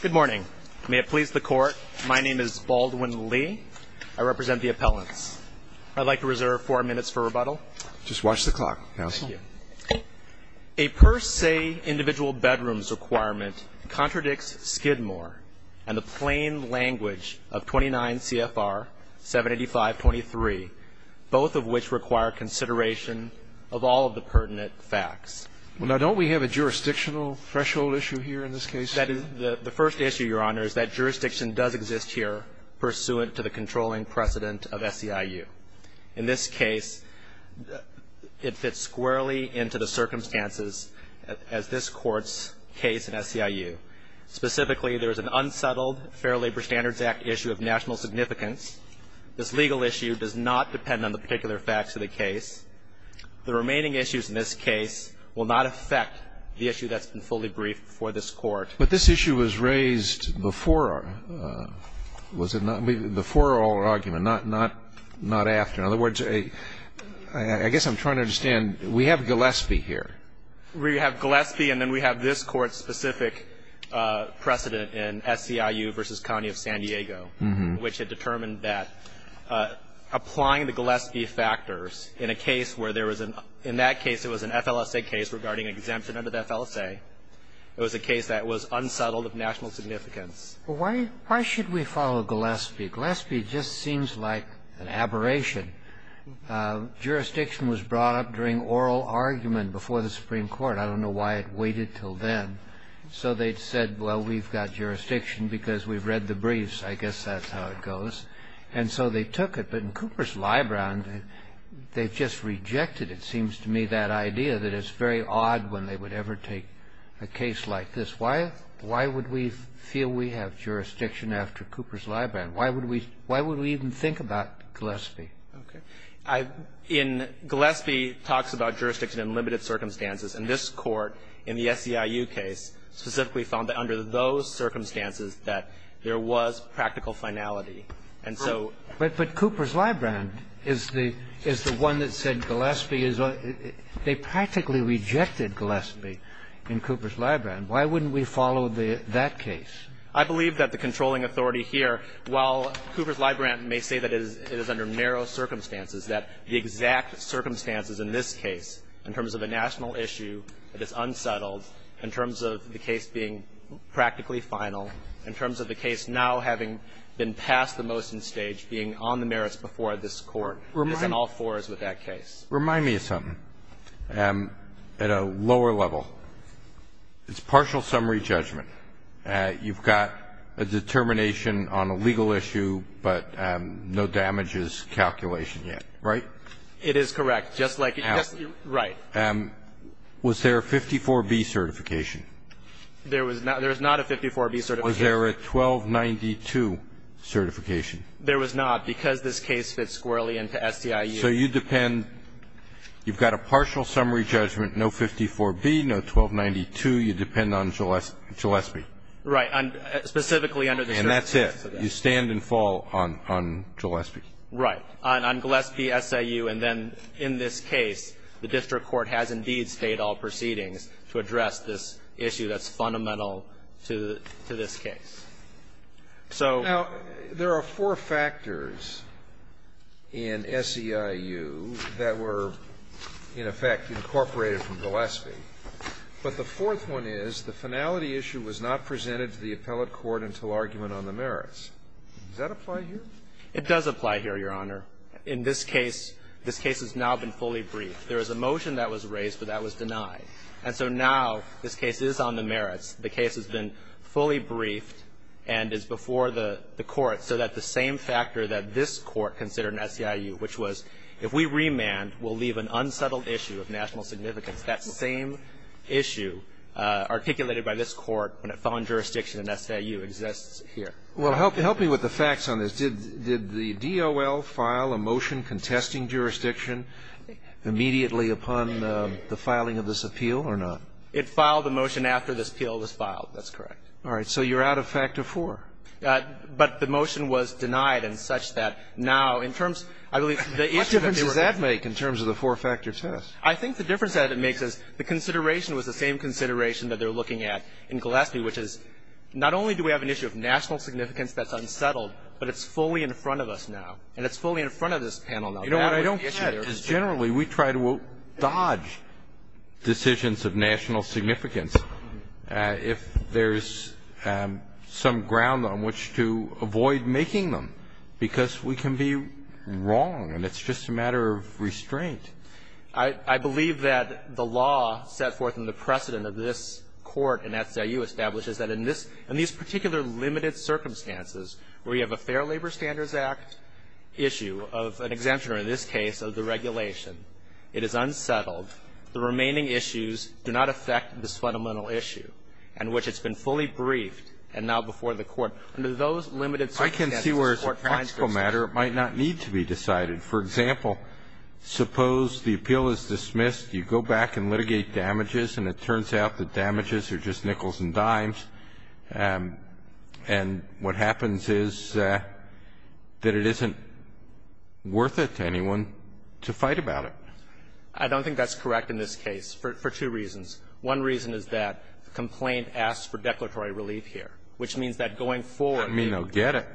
Good morning. May it please the court, my name is Baldwin Lee. I represent the appellants. I'd like to reserve four minutes for rebuttal. Just watch the clock, counsel. Thank you. A per se individual bedroom's requirement contradicts Skidmore and the plain language of 29 CFR 785.23, both of which require consideration of all of the pertinent facts. Well, now, don't we have a jurisdictional threshold issue here in this case? The first issue, Your Honor, is that jurisdiction does exist here pursuant to the controlling precedent of SEIU. In this case, it fits squarely into the circumstances as this Court's case in SEIU. Specifically, there is an unsettled Fair Labor Standards Act issue of national significance. This legal issue does not depend on the particular facts of the case. The remaining issues in this case will not affect the issue that's been fully briefed before this Court. But this issue was raised before, was it not? Before our argument, not after. In other words, I guess I'm trying to understand. We have Gillespie here. We have Gillespie, and then we have this Court's specific precedent in SEIU v. County of San Diego, which had determined that applying the Gillespie factors in a case where there was an — in that case, it was an FLSA case regarding exemption under the FLSA. It was a case that was unsettled of national significance. Well, why should we follow Gillespie? Gillespie just seems like an aberration. Jurisdiction was brought up during oral argument before the Supreme Court. I don't know why it waited until then. So they said, well, we've got jurisdiction because we've read the briefs. I guess that's how it goes. And so they took it. But in Cooper's Librand, they've just rejected, it seems to me, that idea that it's very odd when they would ever take a case like this. Why would we feel we have jurisdiction after Cooper's Librand? Why would we even think about Gillespie? Okay. In — Gillespie talks about jurisdiction in limited circumstances. And this Court in the SEIU case specifically found that under those circumstances that there was practical finality. And so — But Cooper's Librand is the one that said Gillespie is — they practically rejected Gillespie in Cooper's Librand. Why wouldn't we follow that case? I believe that the controlling authority here, while Cooper's Librand may say that it is under narrow circumstances, that the exact circumstances in this case, in terms of a national issue that is unsettled, in terms of the case being practically final, in terms of the case now having been passed the motion stage being on the merits before this Court, is in all fours with that case. Remind me of something. At a lower level, it's partial summary judgment. You've got a determination on a legal issue, but no damages calculation yet. Right? It is correct. Just like — Right. Was there a 54B certification? There was not. There is not a 54B certification. Was there a 1292 certification? There was not, because this case fits squarely into SEIU. So you depend — you've got a partial summary judgment, no 54B, no 1292. You depend on Gillespie. Right. Specifically under the circumstances of that. And that's it. You stand and fall on Gillespie. Right. On Gillespie, SEIU, and then in this case, the district court has indeed stayed all proceedings to address this issue that's fundamental to this case. So — Now, there are four factors in SEIU that were, in effect, incorporated from Gillespie. But the fourth one is the finality issue was not presented to the appellate court until argument on the merits. Does that apply here? It does apply here, Your Honor. In this case, this case has now been fully briefed. There was a motion that was raised, but that was denied. And so now this case is on the merits. The case has been fully briefed and is before the court so that the same factor that this Court considered in SEIU, which was if we remand, we'll leave an unsettled issue of national significance, that same issue articulated by this Court when it fell in jurisdiction in SEIU, exists here. Well, help me with the facts on this. Did the DOL file a motion contesting jurisdiction immediately upon the filing of this appeal or not? It filed the motion after this appeal was filed. That's correct. All right. So you're out of Factor IV. But the motion was denied and such that now, in terms, I believe, the issue that they were going to raise. What difference does that make in terms of the four-factor test? I think the difference that it makes is the consideration was the same consideration that they're looking at in Gillespie, which is not only do we have an issue of national significance that's unsettled, but it's fully in front of us now. And it's fully in front of this panel now. You know what I don't get is generally we try to dodge decisions of national significance if there's some ground on which to avoid making them, because we can be wrong and it's just a matter of restraint. I believe that the law set forth in the precedent of this Court in SIU establishes that in this, in these particular limited circumstances where you have a Fair Labor Standards Act issue of an exemption, or in this case, of the regulation, it is unsettled. The remaining issues do not affect this fundamental issue on which it's been fully briefed and now before the Court. Under those limited circumstances, the Court finds this. I can see where as a practical matter it might not need to be decided. For example, suppose the appeal is dismissed, you go back and litigate damages and it turns out the damages are just nickels and dimes, and what happens is that it isn't worth it to anyone to fight about it. I don't think that's correct in this case for two reasons. One reason is that the complaint asks for declaratory relief here, which means that going forward. I mean, I'll get it.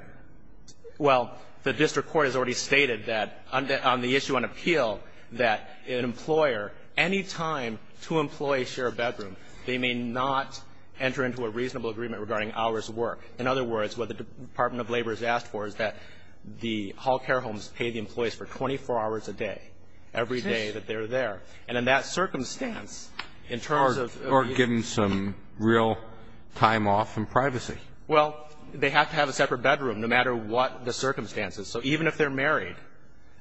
Well, the district court has already stated that on the issue on appeal, that an employer, any time two employees share a bedroom, they may not enter into a reasonable agreement regarding hours of work. In other words, what the Department of Labor has asked for is that the health care homes pay the employees for 24 hours a day, every day that they're there. And in that circumstance, in terms of the issue. Or give them some real time off in privacy. Well, they have to have a separate bedroom, no matter what the circumstances. So even if they're married,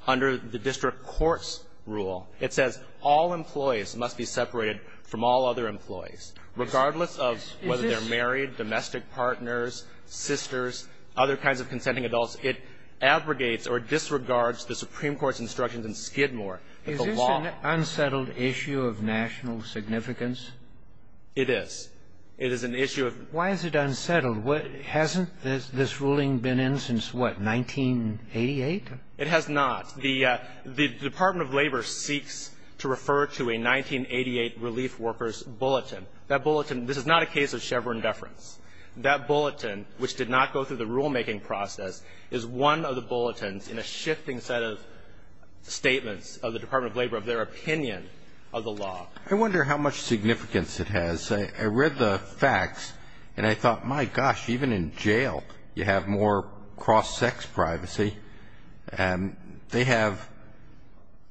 under the district court's rule, it says all employees must be separated from all other employees, regardless of whether they're married, domestic partners, sisters, other kinds of consenting adults. It abrogates or disregards the Supreme Court's instructions in Skidmore, the law. Is this an unsettled issue of national significance? It is. It is an issue of the law. Why is it unsettled? Hasn't this ruling been in since, what, 1988? It has not. The Department of Labor seeks to refer to a 1988 relief workers' bulletin. That bulletin, this is not a case of Chevron deference. That bulletin, which did not go through the rulemaking process, is one of the bulletins in a shifting set of statements of the Department of Labor of their opinion of the law. I wonder how much significance it has. I read the facts, and I thought, my gosh, even in jail you have more cross-sex privacy. They have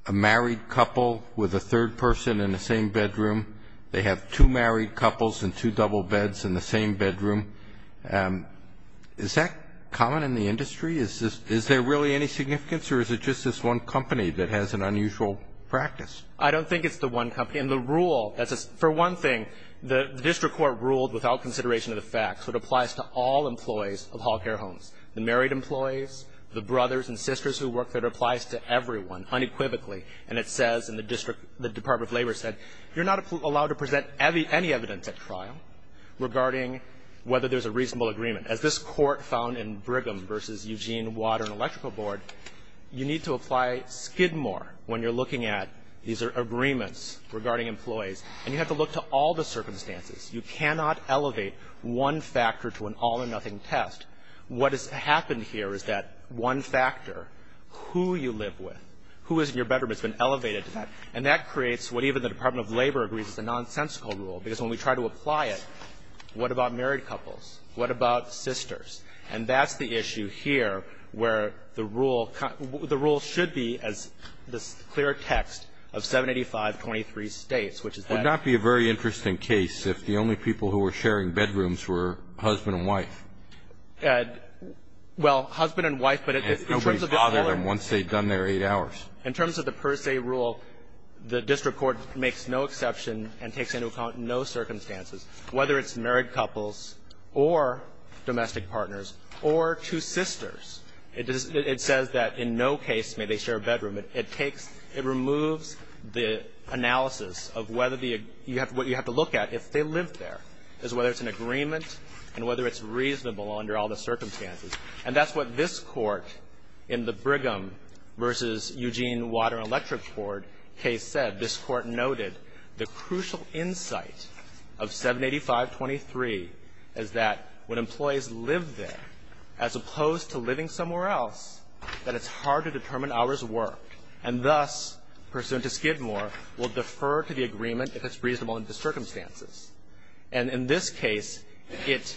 a married couple with a third person in the same bedroom. They have two married couples in two double beds in the same bedroom. Is that common in the industry? Is there really any significance, or is it just this one company that has an unusual practice? I don't think it's the one company. And the rule, for one thing, the district court ruled without consideration of the facts. It applies to all employees of health care homes, the married employees, the brothers and sisters who work there. It applies to everyone unequivocally. And it says in the district, the Department of Labor said, you're not allowed to present any evidence at trial regarding whether there's a reasonable agreement. As this Court found in Brigham v. Eugene Water and Electrical Board, you need to apply skid more when you're looking at these agreements regarding employees. And you have to look to all the circumstances. You cannot elevate one factor to an all-or-nothing test. What has happened here is that one factor, who you live with, who is in your bedroom, has been elevated to that. And that creates what even the Department of Labor agrees is a nonsensical rule, because when we try to apply it, what about married couples? What about sisters? And that's the issue here, where the rule should be as this clear text of 785-23 states, which is that the only people who were sharing bedrooms were husband and wife. Well, husband and wife, but in terms of the whole of it. Nobody bothered them once they'd done their eight hours. In terms of the per se rule, the district court makes no exception and takes into account no circumstances, whether it's married couples or domestic partners or two sisters. It says that in no case may they share a bedroom. It takes – it removes the analysis of whether the – what you have to look at if they lived there, is whether it's an agreement and whether it's reasonable under all the circumstances. And that's what this Court in the Brigham v. Eugene Water and Electrical Board case said. This Court noted the crucial insight of 785-23 is that when employees live there, as opposed to living somewhere else, that it's hard to determine hours worked and thus, pursuant to Skidmore, will defer to the agreement if it's reasonable under the circumstances. And in this case, it,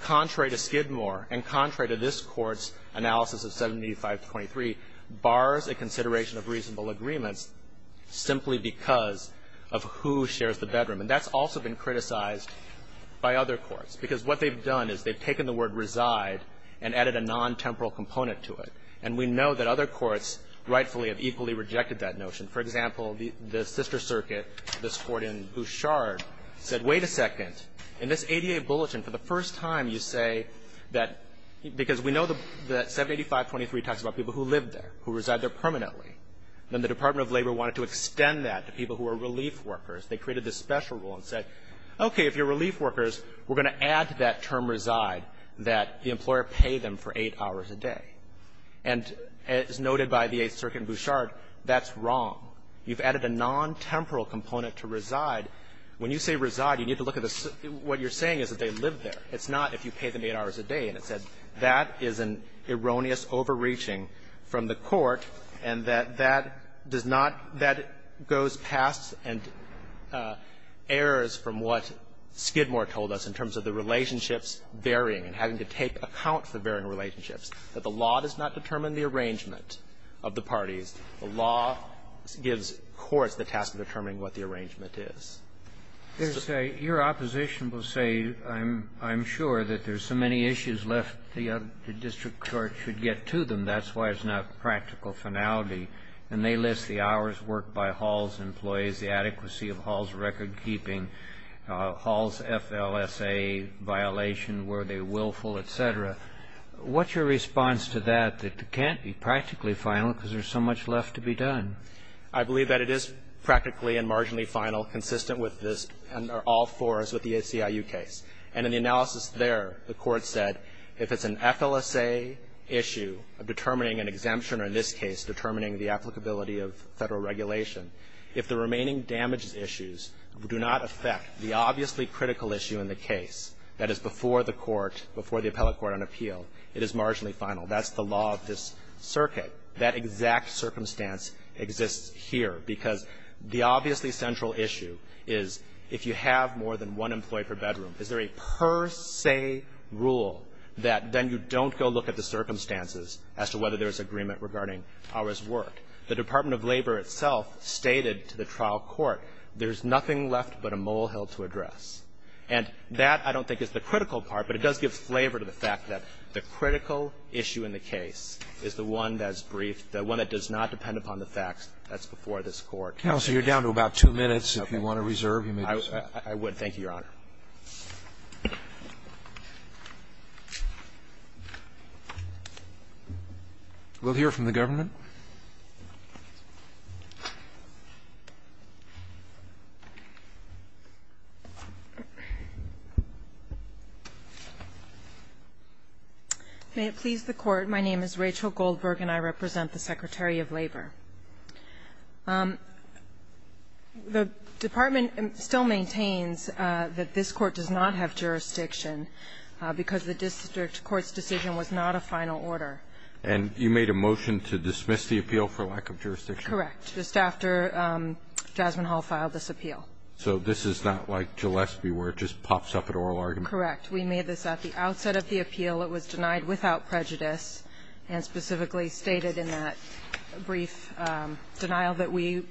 contrary to Skidmore and contrary to this Court's analysis of 785-23, bars a consideration of reasonable agreements simply because of who shares the bedroom. And that's also been criticized by other courts. Because what they've done is they've taken the word reside and added a non-temporal component to it. And we know that other courts rightfully have equally rejected that notion. For example, the sister circuit, this Court in Bouchard, said, wait a second. In this ADA bulletin, for the first time, you say that because we know that 785-23 talks about people who live there, who reside there permanently, then the Department of Labor wanted to extend that to people who are relief workers. They created this special rule and said, okay, if you're relief workers, we're going to add to that term reside that the employer pay them for eight hours a day. And as noted by the 8th Circuit in Bouchard, that's wrong. You've added a non-temporal component to reside. When you say reside, you need to look at what you're saying is that they live there. It's not if you pay them eight hours a day. And it said that is an erroneous overreaching from the Court and that that does not goes past and errs from what Skidmore told us in terms of the relationships varying and having to take account for varying relationships, that the law does not determine the arrangement of the parties. The law gives courts the task of determining what the arrangement is. Your opposition will say I'm sure that there's so many issues left the district court should get to them. That's why it's not practical finality. And they list the hours worked by Hall's employees, the adequacy of Hall's record keeping, Hall's FLSA violation, were they willful, et cetera. What's your response to that? It can't be practically final because there's so much left to be done. I believe that it is practically and marginally final consistent with this and are all fours with the ACIU case. And in the analysis there, the Court said if it's an FLSA issue of determining an exemption or in this case determining the applicability of Federal regulation, if the remaining damage issues do not affect the obviously critical issue in the case that is before the Court, before the appellate court on appeal, it is marginally final. That's the law of this circuit. That exact circumstance exists here because the obviously central issue is if you have more than one employee per bedroom, is there a per se rule that then you don't go look at the circumstances as to whether there's agreement regarding hours worked? The Department of Labor itself stated to the trial court there's nothing left but a molehill to address. And that I don't think is the critical part, but it does give flavor to the fact that the critical issue in the case is the one that's briefed, the one that does not depend upon the facts that's before this Court. Roberts, you're down to about two minutes. If you want to reserve, you may do so. I would. Thank you, Your Honor. We'll hear from the government. May it please the Court. My name is Rachel Goldberg, and I represent the Secretary of Labor. The Department still maintains that this Court does not have jurisdiction because the district court's decision was not a final order. And you made a motion to dismiss the appeal for lack of jurisdiction? Correct. Just after Jasmine Hall filed this appeal. So this is not like Gillespie where it just pops up at oral argument? Correct. We made this at the outset of the appeal. It was denied without prejudice and specifically stated in that brief denial that we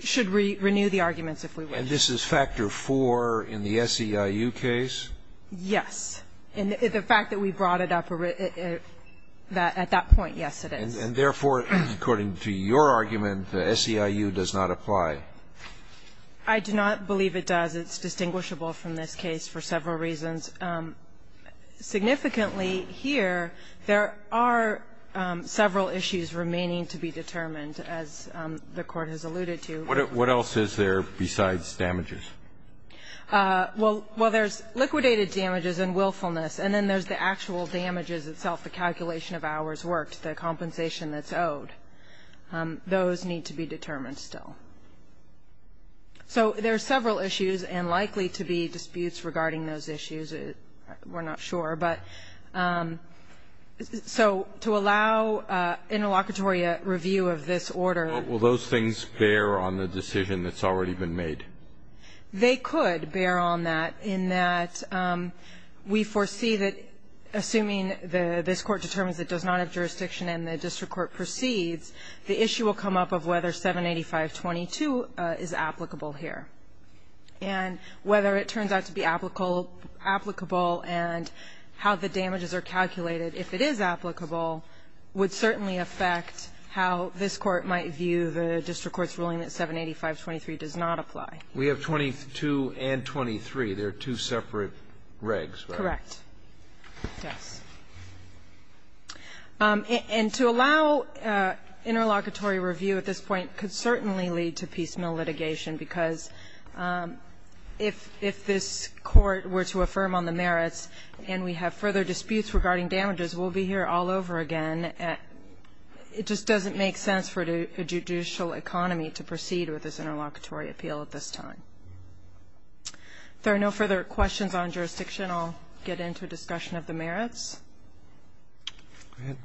should renew the arguments if we wish. And this is factor 4 in the SEIU case? Yes. And the fact that we brought it up at that point, yes, it is. And therefore, according to your argument, the SEIU does not apply? I do not believe it does. It's distinguishable from this case for several reasons. Significantly here, there are several issues remaining to be determined, as the Court has alluded to. What else is there besides damages? Well, there's liquidated damages and willfulness, and then there's the actual damages itself, the calculation of hours worked, the compensation that's owed. Those need to be determined still. So there are several issues and likely to be disputes regarding those issues. We're not sure. But so to allow interlocutory review of this order. But will those things bear on the decision that's already been made? They could bear on that in that we foresee that, assuming this Court determines it does not have jurisdiction and the district court proceeds, the issue will come up of whether 785.22 is applicable here. And whether it turns out to be applicable and how the damages are calculated, if it is applicable, would certainly affect how this Court might view the district court's ruling that 785.23 does not apply. We have 22 and 23. They're two separate regs. Correct. Yes. And to allow interlocutory review at this point could certainly lead to piecemeal litigation, because if this Court were to affirm on the merits and we have further disputes regarding damages, we'll be here all over again. It just doesn't make sense for a judicial economy to proceed with this interlocutory appeal at this time. If there are no further questions on jurisdiction, I'll get into a discussion of the merits. Go ahead.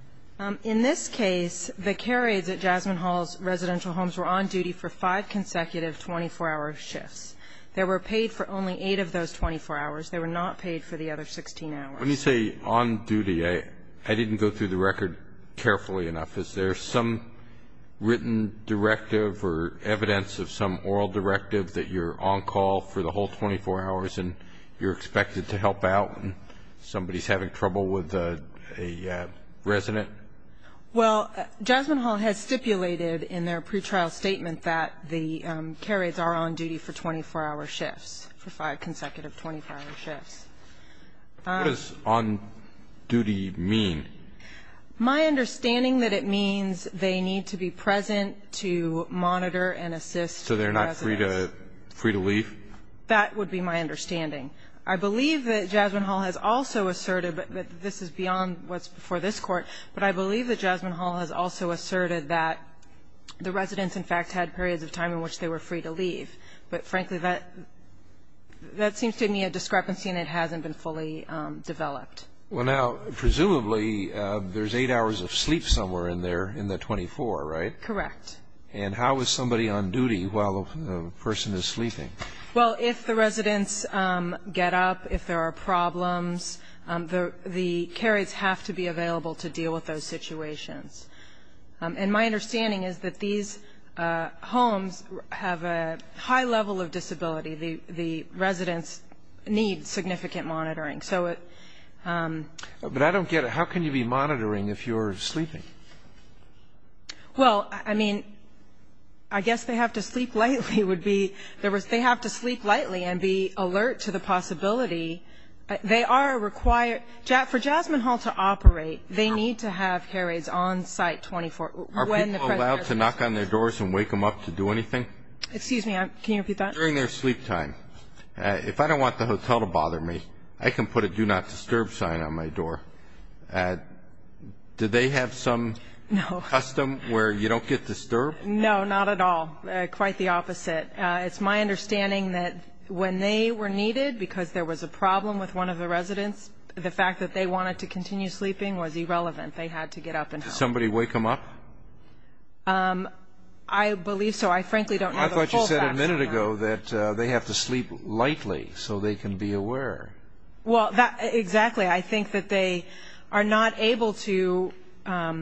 In this case, the care aides at Jasmine Hall's residential homes were on duty for five consecutive 24-hour shifts. They were paid for only eight of those 24 hours. They were not paid for the other 16 hours. When you say on duty, I didn't go through the record carefully enough. Is there some written directive or evidence of some oral directive that you're on call for the whole 24 hours and you're expected to help out and somebody's having trouble with a resident? Well, Jasmine Hall has stipulated in their pretrial statement that the care aides are on duty for 24-hour shifts, for five consecutive 24-hour shifts. What does on duty mean? My understanding that it means they need to be present to monitor and assist residents. So they're not free to leave? That would be my understanding. I believe that Jasmine Hall has also asserted, but this is beyond what's before this Court, but I believe that Jasmine Hall has also asserted that the residents, in fact, had periods of time in which they were free to leave. But, frankly, that seems to me a discrepancy and it hasn't been fully developed. Well, now, presumably there's eight hours of sleep somewhere in there in the 24, right? Correct. And how is somebody on duty while the person is sleeping? Well, if the residents get up, if there are problems, the care aides have to be available to deal with those situations. And my understanding is that these homes have a high level of disability. The residents need significant monitoring. But I don't get it. How can you be monitoring if you're sleeping? Well, I mean, I guess they have to sleep lightly, would be. They have to sleep lightly and be alert to the possibility. They are required. For Jasmine Hall to operate, they need to have care aides on site 24 hours. Are people allowed to knock on their doors and wake them up to do anything? Excuse me, can you repeat that? During their sleep time. If I don't want the hotel to bother me, I can put a do not disturb sign on my door. Do they have some custom where you don't get disturbed? No, not at all. Quite the opposite. It's my understanding that when they were needed because there was a problem with one of the residents, the fact that they wanted to continue sleeping was irrelevant. They had to get up and go. Did somebody wake them up? I believe so. I frankly don't know the full facts. I thought you said a minute ago that they have to sleep lightly so they can be aware. Well, exactly. I think that they are not able to. How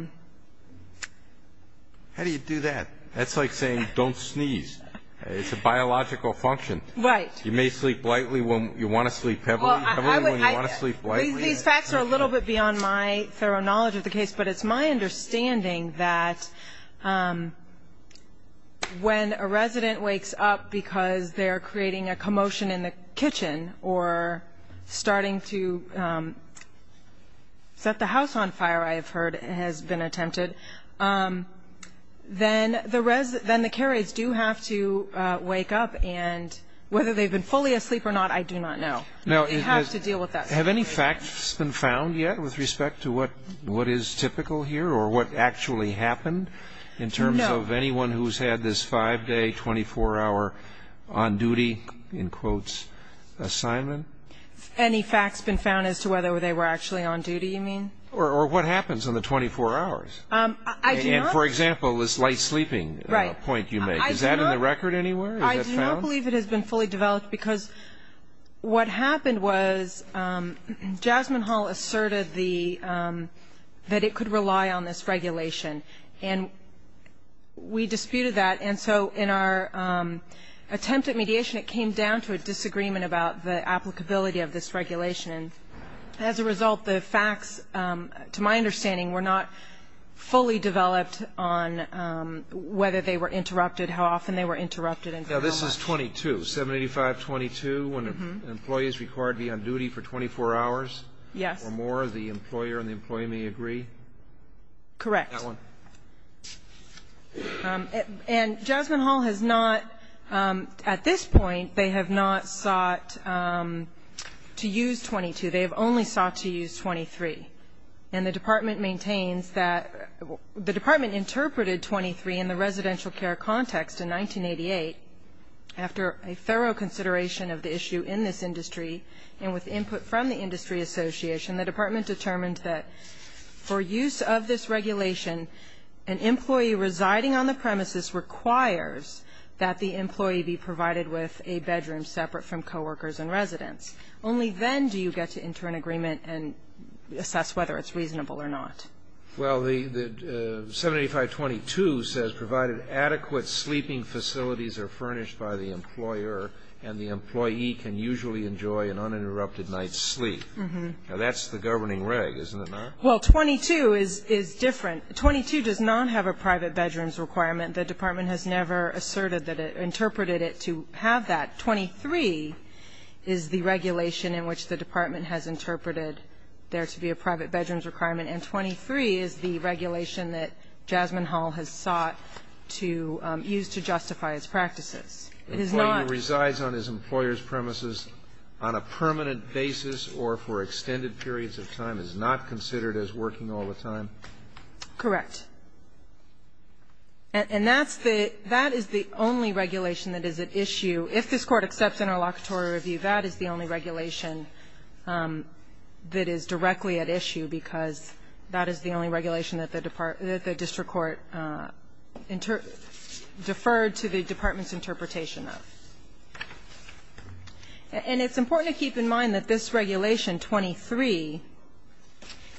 do you do that? That's like saying don't sneeze. It's a biological function. Right. You may sleep lightly when you want to sleep heavily. These facts are a little bit beyond my thorough knowledge of the case, but it's my understanding that when a resident wakes up because they're creating a commotion in the kitchen or starting to set the house on fire, I have heard has been attempted, then the care aides do have to wake up. And whether they've been fully asleep or not, I do not know. You have to deal with that. Have any facts been found yet with respect to what is typical here or what actually happened in terms of anyone who's had this five-day, 24-hour on-duty, in quotes, assignment? Any facts been found as to whether they were actually on duty, you mean? Or what happens in the 24 hours? I do not. And, for example, this light sleeping point you make. Is that in the record anywhere? Is that found? I do not believe it has been fully developed, because what happened was Jasmine Hall asserted that it could rely on this regulation. And we disputed that. And so in our attempt at mediation, it came down to a disagreement about the applicability of this regulation. And as a result, the facts, to my understanding, were not fully developed on whether they were interrupted, how often they were interrupted and how much. Now, this is 22, 785.22, when an employee is required to be on duty for 24 hours or more. Yes. The employer and the employee may agree? Correct. That one. And Jasmine Hall has not, at this point, they have not sought to use 22. They have only sought to use 23. And the Department maintains that the Department interpreted 23 in the residential care context in 1988 after a thorough consideration of the issue in this industry and with input from the industry association, the Department determined that for use of this regulation, an employee residing on the premises requires that the employee be provided with a bedroom separate from coworkers and residents. Only then do you get to enter an agreement and assess whether it's reasonable or not. Well, the 785.22 says provided adequate sleeping facilities are furnished by the employer and the employee can usually enjoy an uninterrupted night's sleep. Now, that's the governing reg, isn't it not? Well, 22 is different. 22 does not have a private bedrooms requirement. The Department has never asserted that it, interpreted it to have that. 23 is the regulation in which the Department has interpreted there to be a private bedrooms requirement. And 23 is the regulation that Jasmine Hall has sought to use to justify its practices. It is not. Employee who resides on his employer's premises on a permanent basis or for extended periods of time is not considered as working all the time? Correct. And that's the, that is the only regulation that is at issue. If this Court accepts interlocutory review, that is the only regulation that is directly at issue because that is the only regulation that the district court deferred to the Department's interpretation of. And it's important to keep in mind that this regulation, 23,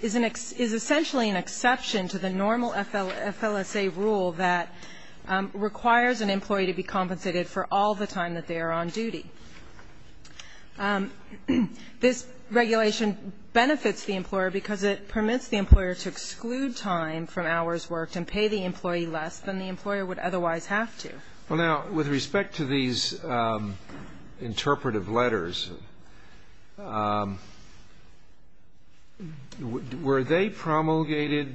is essentially an exception to the normal FLSA rule that requires an employee to be compensated for all the time that they are on duty. This regulation benefits the employer because it permits the employer to exclude time from hours worked and pay the employee less than the employer would otherwise have to. Well, now, with respect to these interpretive letters, were they promulgated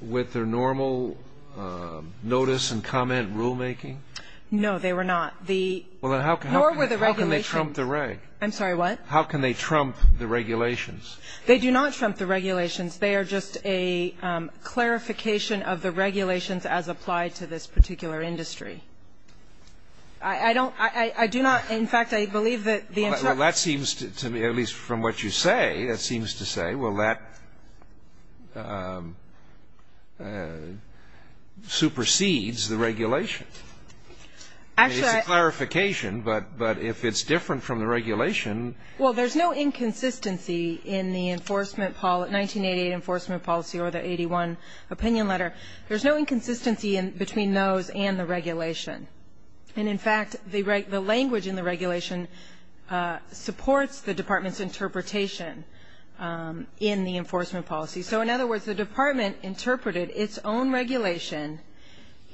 with their normal notice and comment rulemaking? No, they were not. The nor were the regulations. How can they trump the regulations? They do not trump the regulations. They are just a clarification of the regulations as applied to this particular industry. I don't, I do not, in fact, I believe that the interpreters. Well, that seems to me, at least from what you say, that seems to say, well, that supersedes the regulation. Actually, I. It's a clarification, but if it's different from the regulation. Well, there's no inconsistency in the enforcement policy, 1988 enforcement policy or the 81 opinion letter. There's no inconsistency between those and the regulation. And, in fact, the language in the regulation supports the Department's interpretation in the enforcement policy. So, in other words, the Department interpreted its own regulation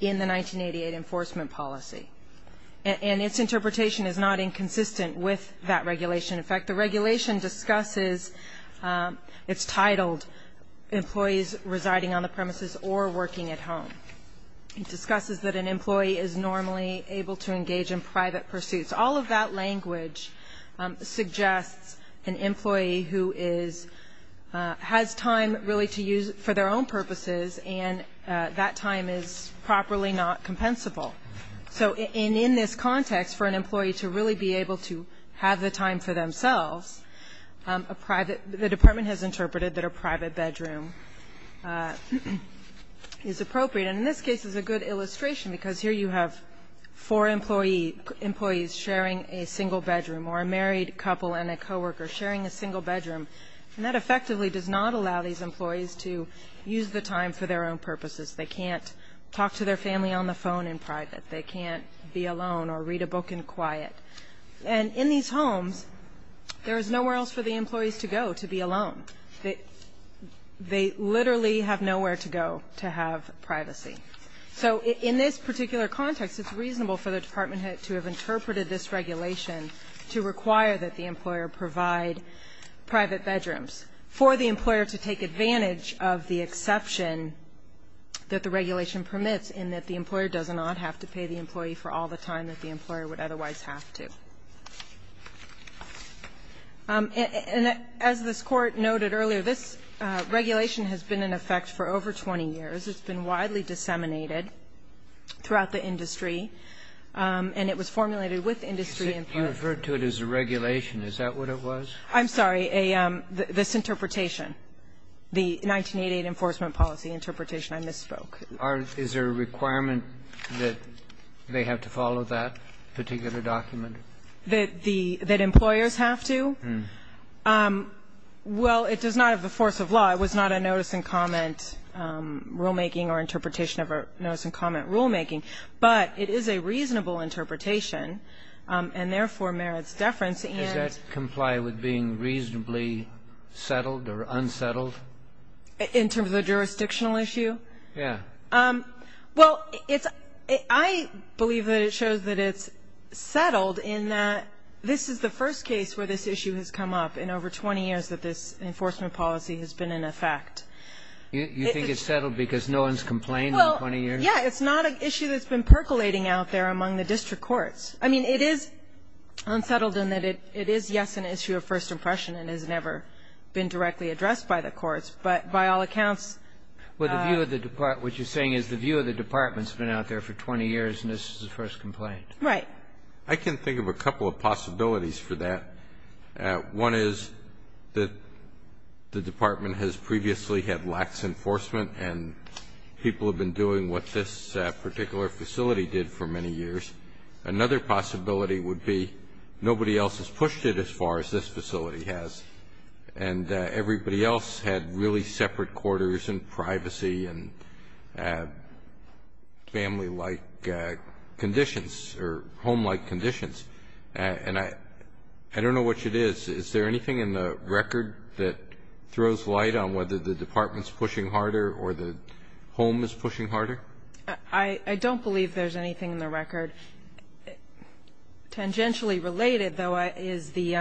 in the 1988 enforcement policy. And its interpretation is not inconsistent with that regulation. In fact, the regulation discusses, it's titled Employees Residing on the Premises or Working at Home. It discusses that an employee is normally able to engage in private pursuits. All of that language suggests an employee who is, has time really to use for their own purposes, and that time is properly not compensable. So in this context, for an employee to really be able to have the time for themselves, a private, the Department has interpreted that a private bedroom is appropriate. And in this case, it's a good illustration, because here you have four employees sharing a single bedroom, or a married couple and a coworker sharing a single bedroom. And that effectively does not allow these employees to use the time for their own purposes. They can't talk to their family on the phone in private. They can't be alone or read a book in quiet. And in these homes, there is nowhere else for the employees to go to be alone. They literally have nowhere to go to have privacy. So in this particular context, it's reasonable for the Department to have interpreted this regulation to require that the employer provide private bedrooms for the employer in order to take advantage of the exception that the regulation permits in that the employer does not have to pay the employee for all the time that the employer would otherwise have to. And as this Court noted earlier, this regulation has been in effect for over 20 years. It's been widely disseminated throughout the industry, and it was formulated with industry in mind. You referred to it as a regulation. Is that what it was? I'm sorry. This interpretation, the 1988 enforcement policy interpretation, I misspoke. Is there a requirement that they have to follow that particular document? That employers have to? Well, it does not have the force of law. It was not a notice and comment rulemaking or interpretation of a notice and comment rulemaking. But it is a reasonable interpretation, and therefore merits deference. Does that comply with being reasonably settled or unsettled? In terms of the jurisdictional issue? Yeah. Well, I believe that it shows that it's settled in that this is the first case where this issue has come up in over 20 years that this enforcement policy has been in effect. You think it's settled because no one's complained in 20 years? Well, yeah. It's not an issue that's been percolating out there among the district courts. I mean, it is unsettled in that it is, yes, an issue of first impression and has never been directly addressed by the courts. But by all accounts the view of the department, what you're saying is the view of the department has been out there for 20 years and this is the first complaint. Right. I can think of a couple of possibilities for that. One is that the department has previously had lax enforcement and people have been doing what this particular facility did for many years. Another possibility would be nobody else has pushed it as far as this facility has and everybody else had really separate quarters and privacy and family-like conditions or home-like conditions. And I don't know which it is. Is there anything in the record that throws light on whether the department's pushing harder or the home is pushing harder? I don't believe there's anything in the record. Tangentially related, though, is the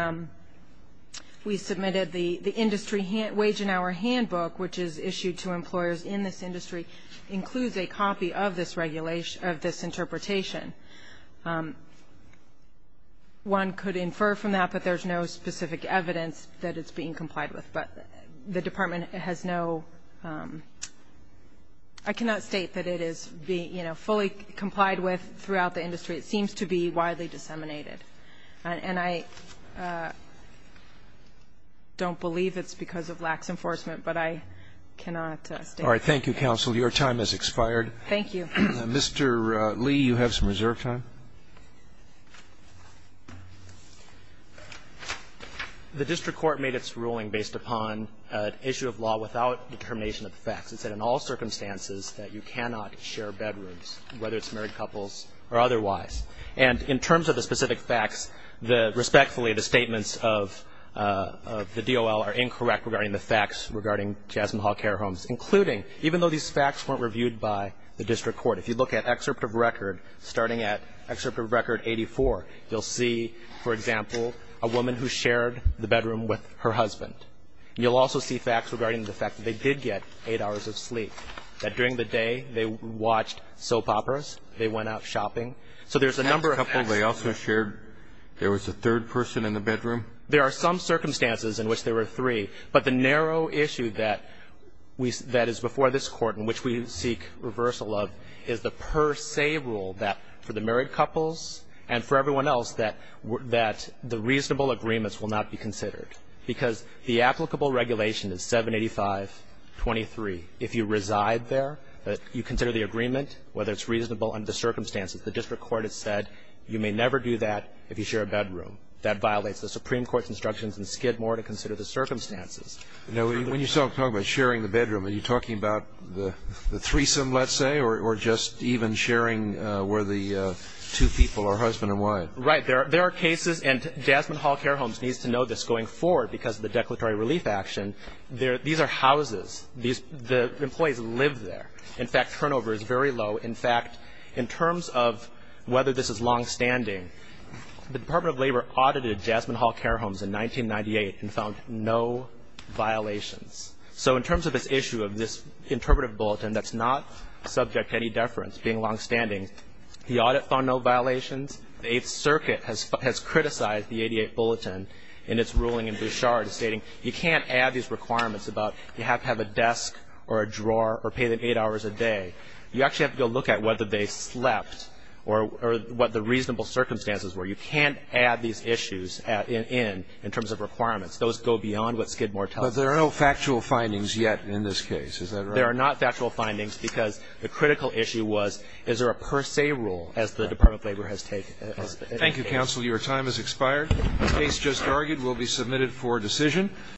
we submitted the industry wage and hour handbook, which is issued to employers in this industry, includes a copy of this regulation, of this interpretation. One could infer from that, but there's no specific evidence that it's being complied with. But the department has no ---- I cannot state that it is being fully complied with throughout the industry. It seems to be widely disseminated. And I don't believe it's because of lax enforcement, but I cannot state that. All right. Thank you, counsel. Your time has expired. Thank you. Mr. Lee, you have some reserve time. The district court made its ruling based upon an issue of law without determination of the facts. It said in all circumstances that you cannot share bedrooms, whether it's married couples or otherwise. And in terms of the specific facts, respectfully, the statements of the DOL are incorrect regarding the facts regarding Jasmine Hall care homes, including, even though these facts weren't reviewed by the district court, if you look at excerpt of record, starting at excerpt of record 84, you'll see, for example, a woman who shared the bedroom with her husband. You'll also see facts regarding the fact that they did get eight hours of sleep, that during the day they watched soap operas, they went out shopping. So there's a number of facts. They also shared there was a third person in the bedroom? There are some circumstances in which there were three, but the narrow issue that we see that is before this Court and which we seek reversal of is the per se rule that for the married couples and for everyone else that the reasonable agreements will not be considered, because the applicable regulation is 785.23. If you reside there, you consider the agreement, whether it's reasonable under the circumstances. The district court has said you may never do that if you share a bedroom. That violates the Supreme Court's instructions in Skidmore to consider the circumstances. When you're talking about sharing the bedroom, are you talking about the threesome, let's say, or just even sharing where the two people are, husband and wife? Right. There are cases, and Jasmine Hall Care Homes needs to know this going forward because of the declaratory relief action. These are houses. The employees live there. In fact, turnover is very low. In fact, in terms of whether this is longstanding, the Department of Labor audited Jasmine Hall Care Homes in 1998 and found no violations. So in terms of this issue of this interpretive bulletin that's not subject to any deference being longstanding, the audit found no violations. The Eighth Circuit has criticized the 88th Bulletin in its ruling in Bouchard stating you can't add these requirements about you have to have a desk or a drawer or pay them eight hours a day. You actually have to go look at whether they slept or what the reasonable circumstances were. You can't add these issues in terms of requirements. Those go beyond what Skidmore tells you. But there are no factual findings yet in this case. Is that right? There are not factual findings because the critical issue was is there a per se rule as the Department of Labor has taken it? Thank you, counsel. Your time has expired. The case just argued will be submitted for decision.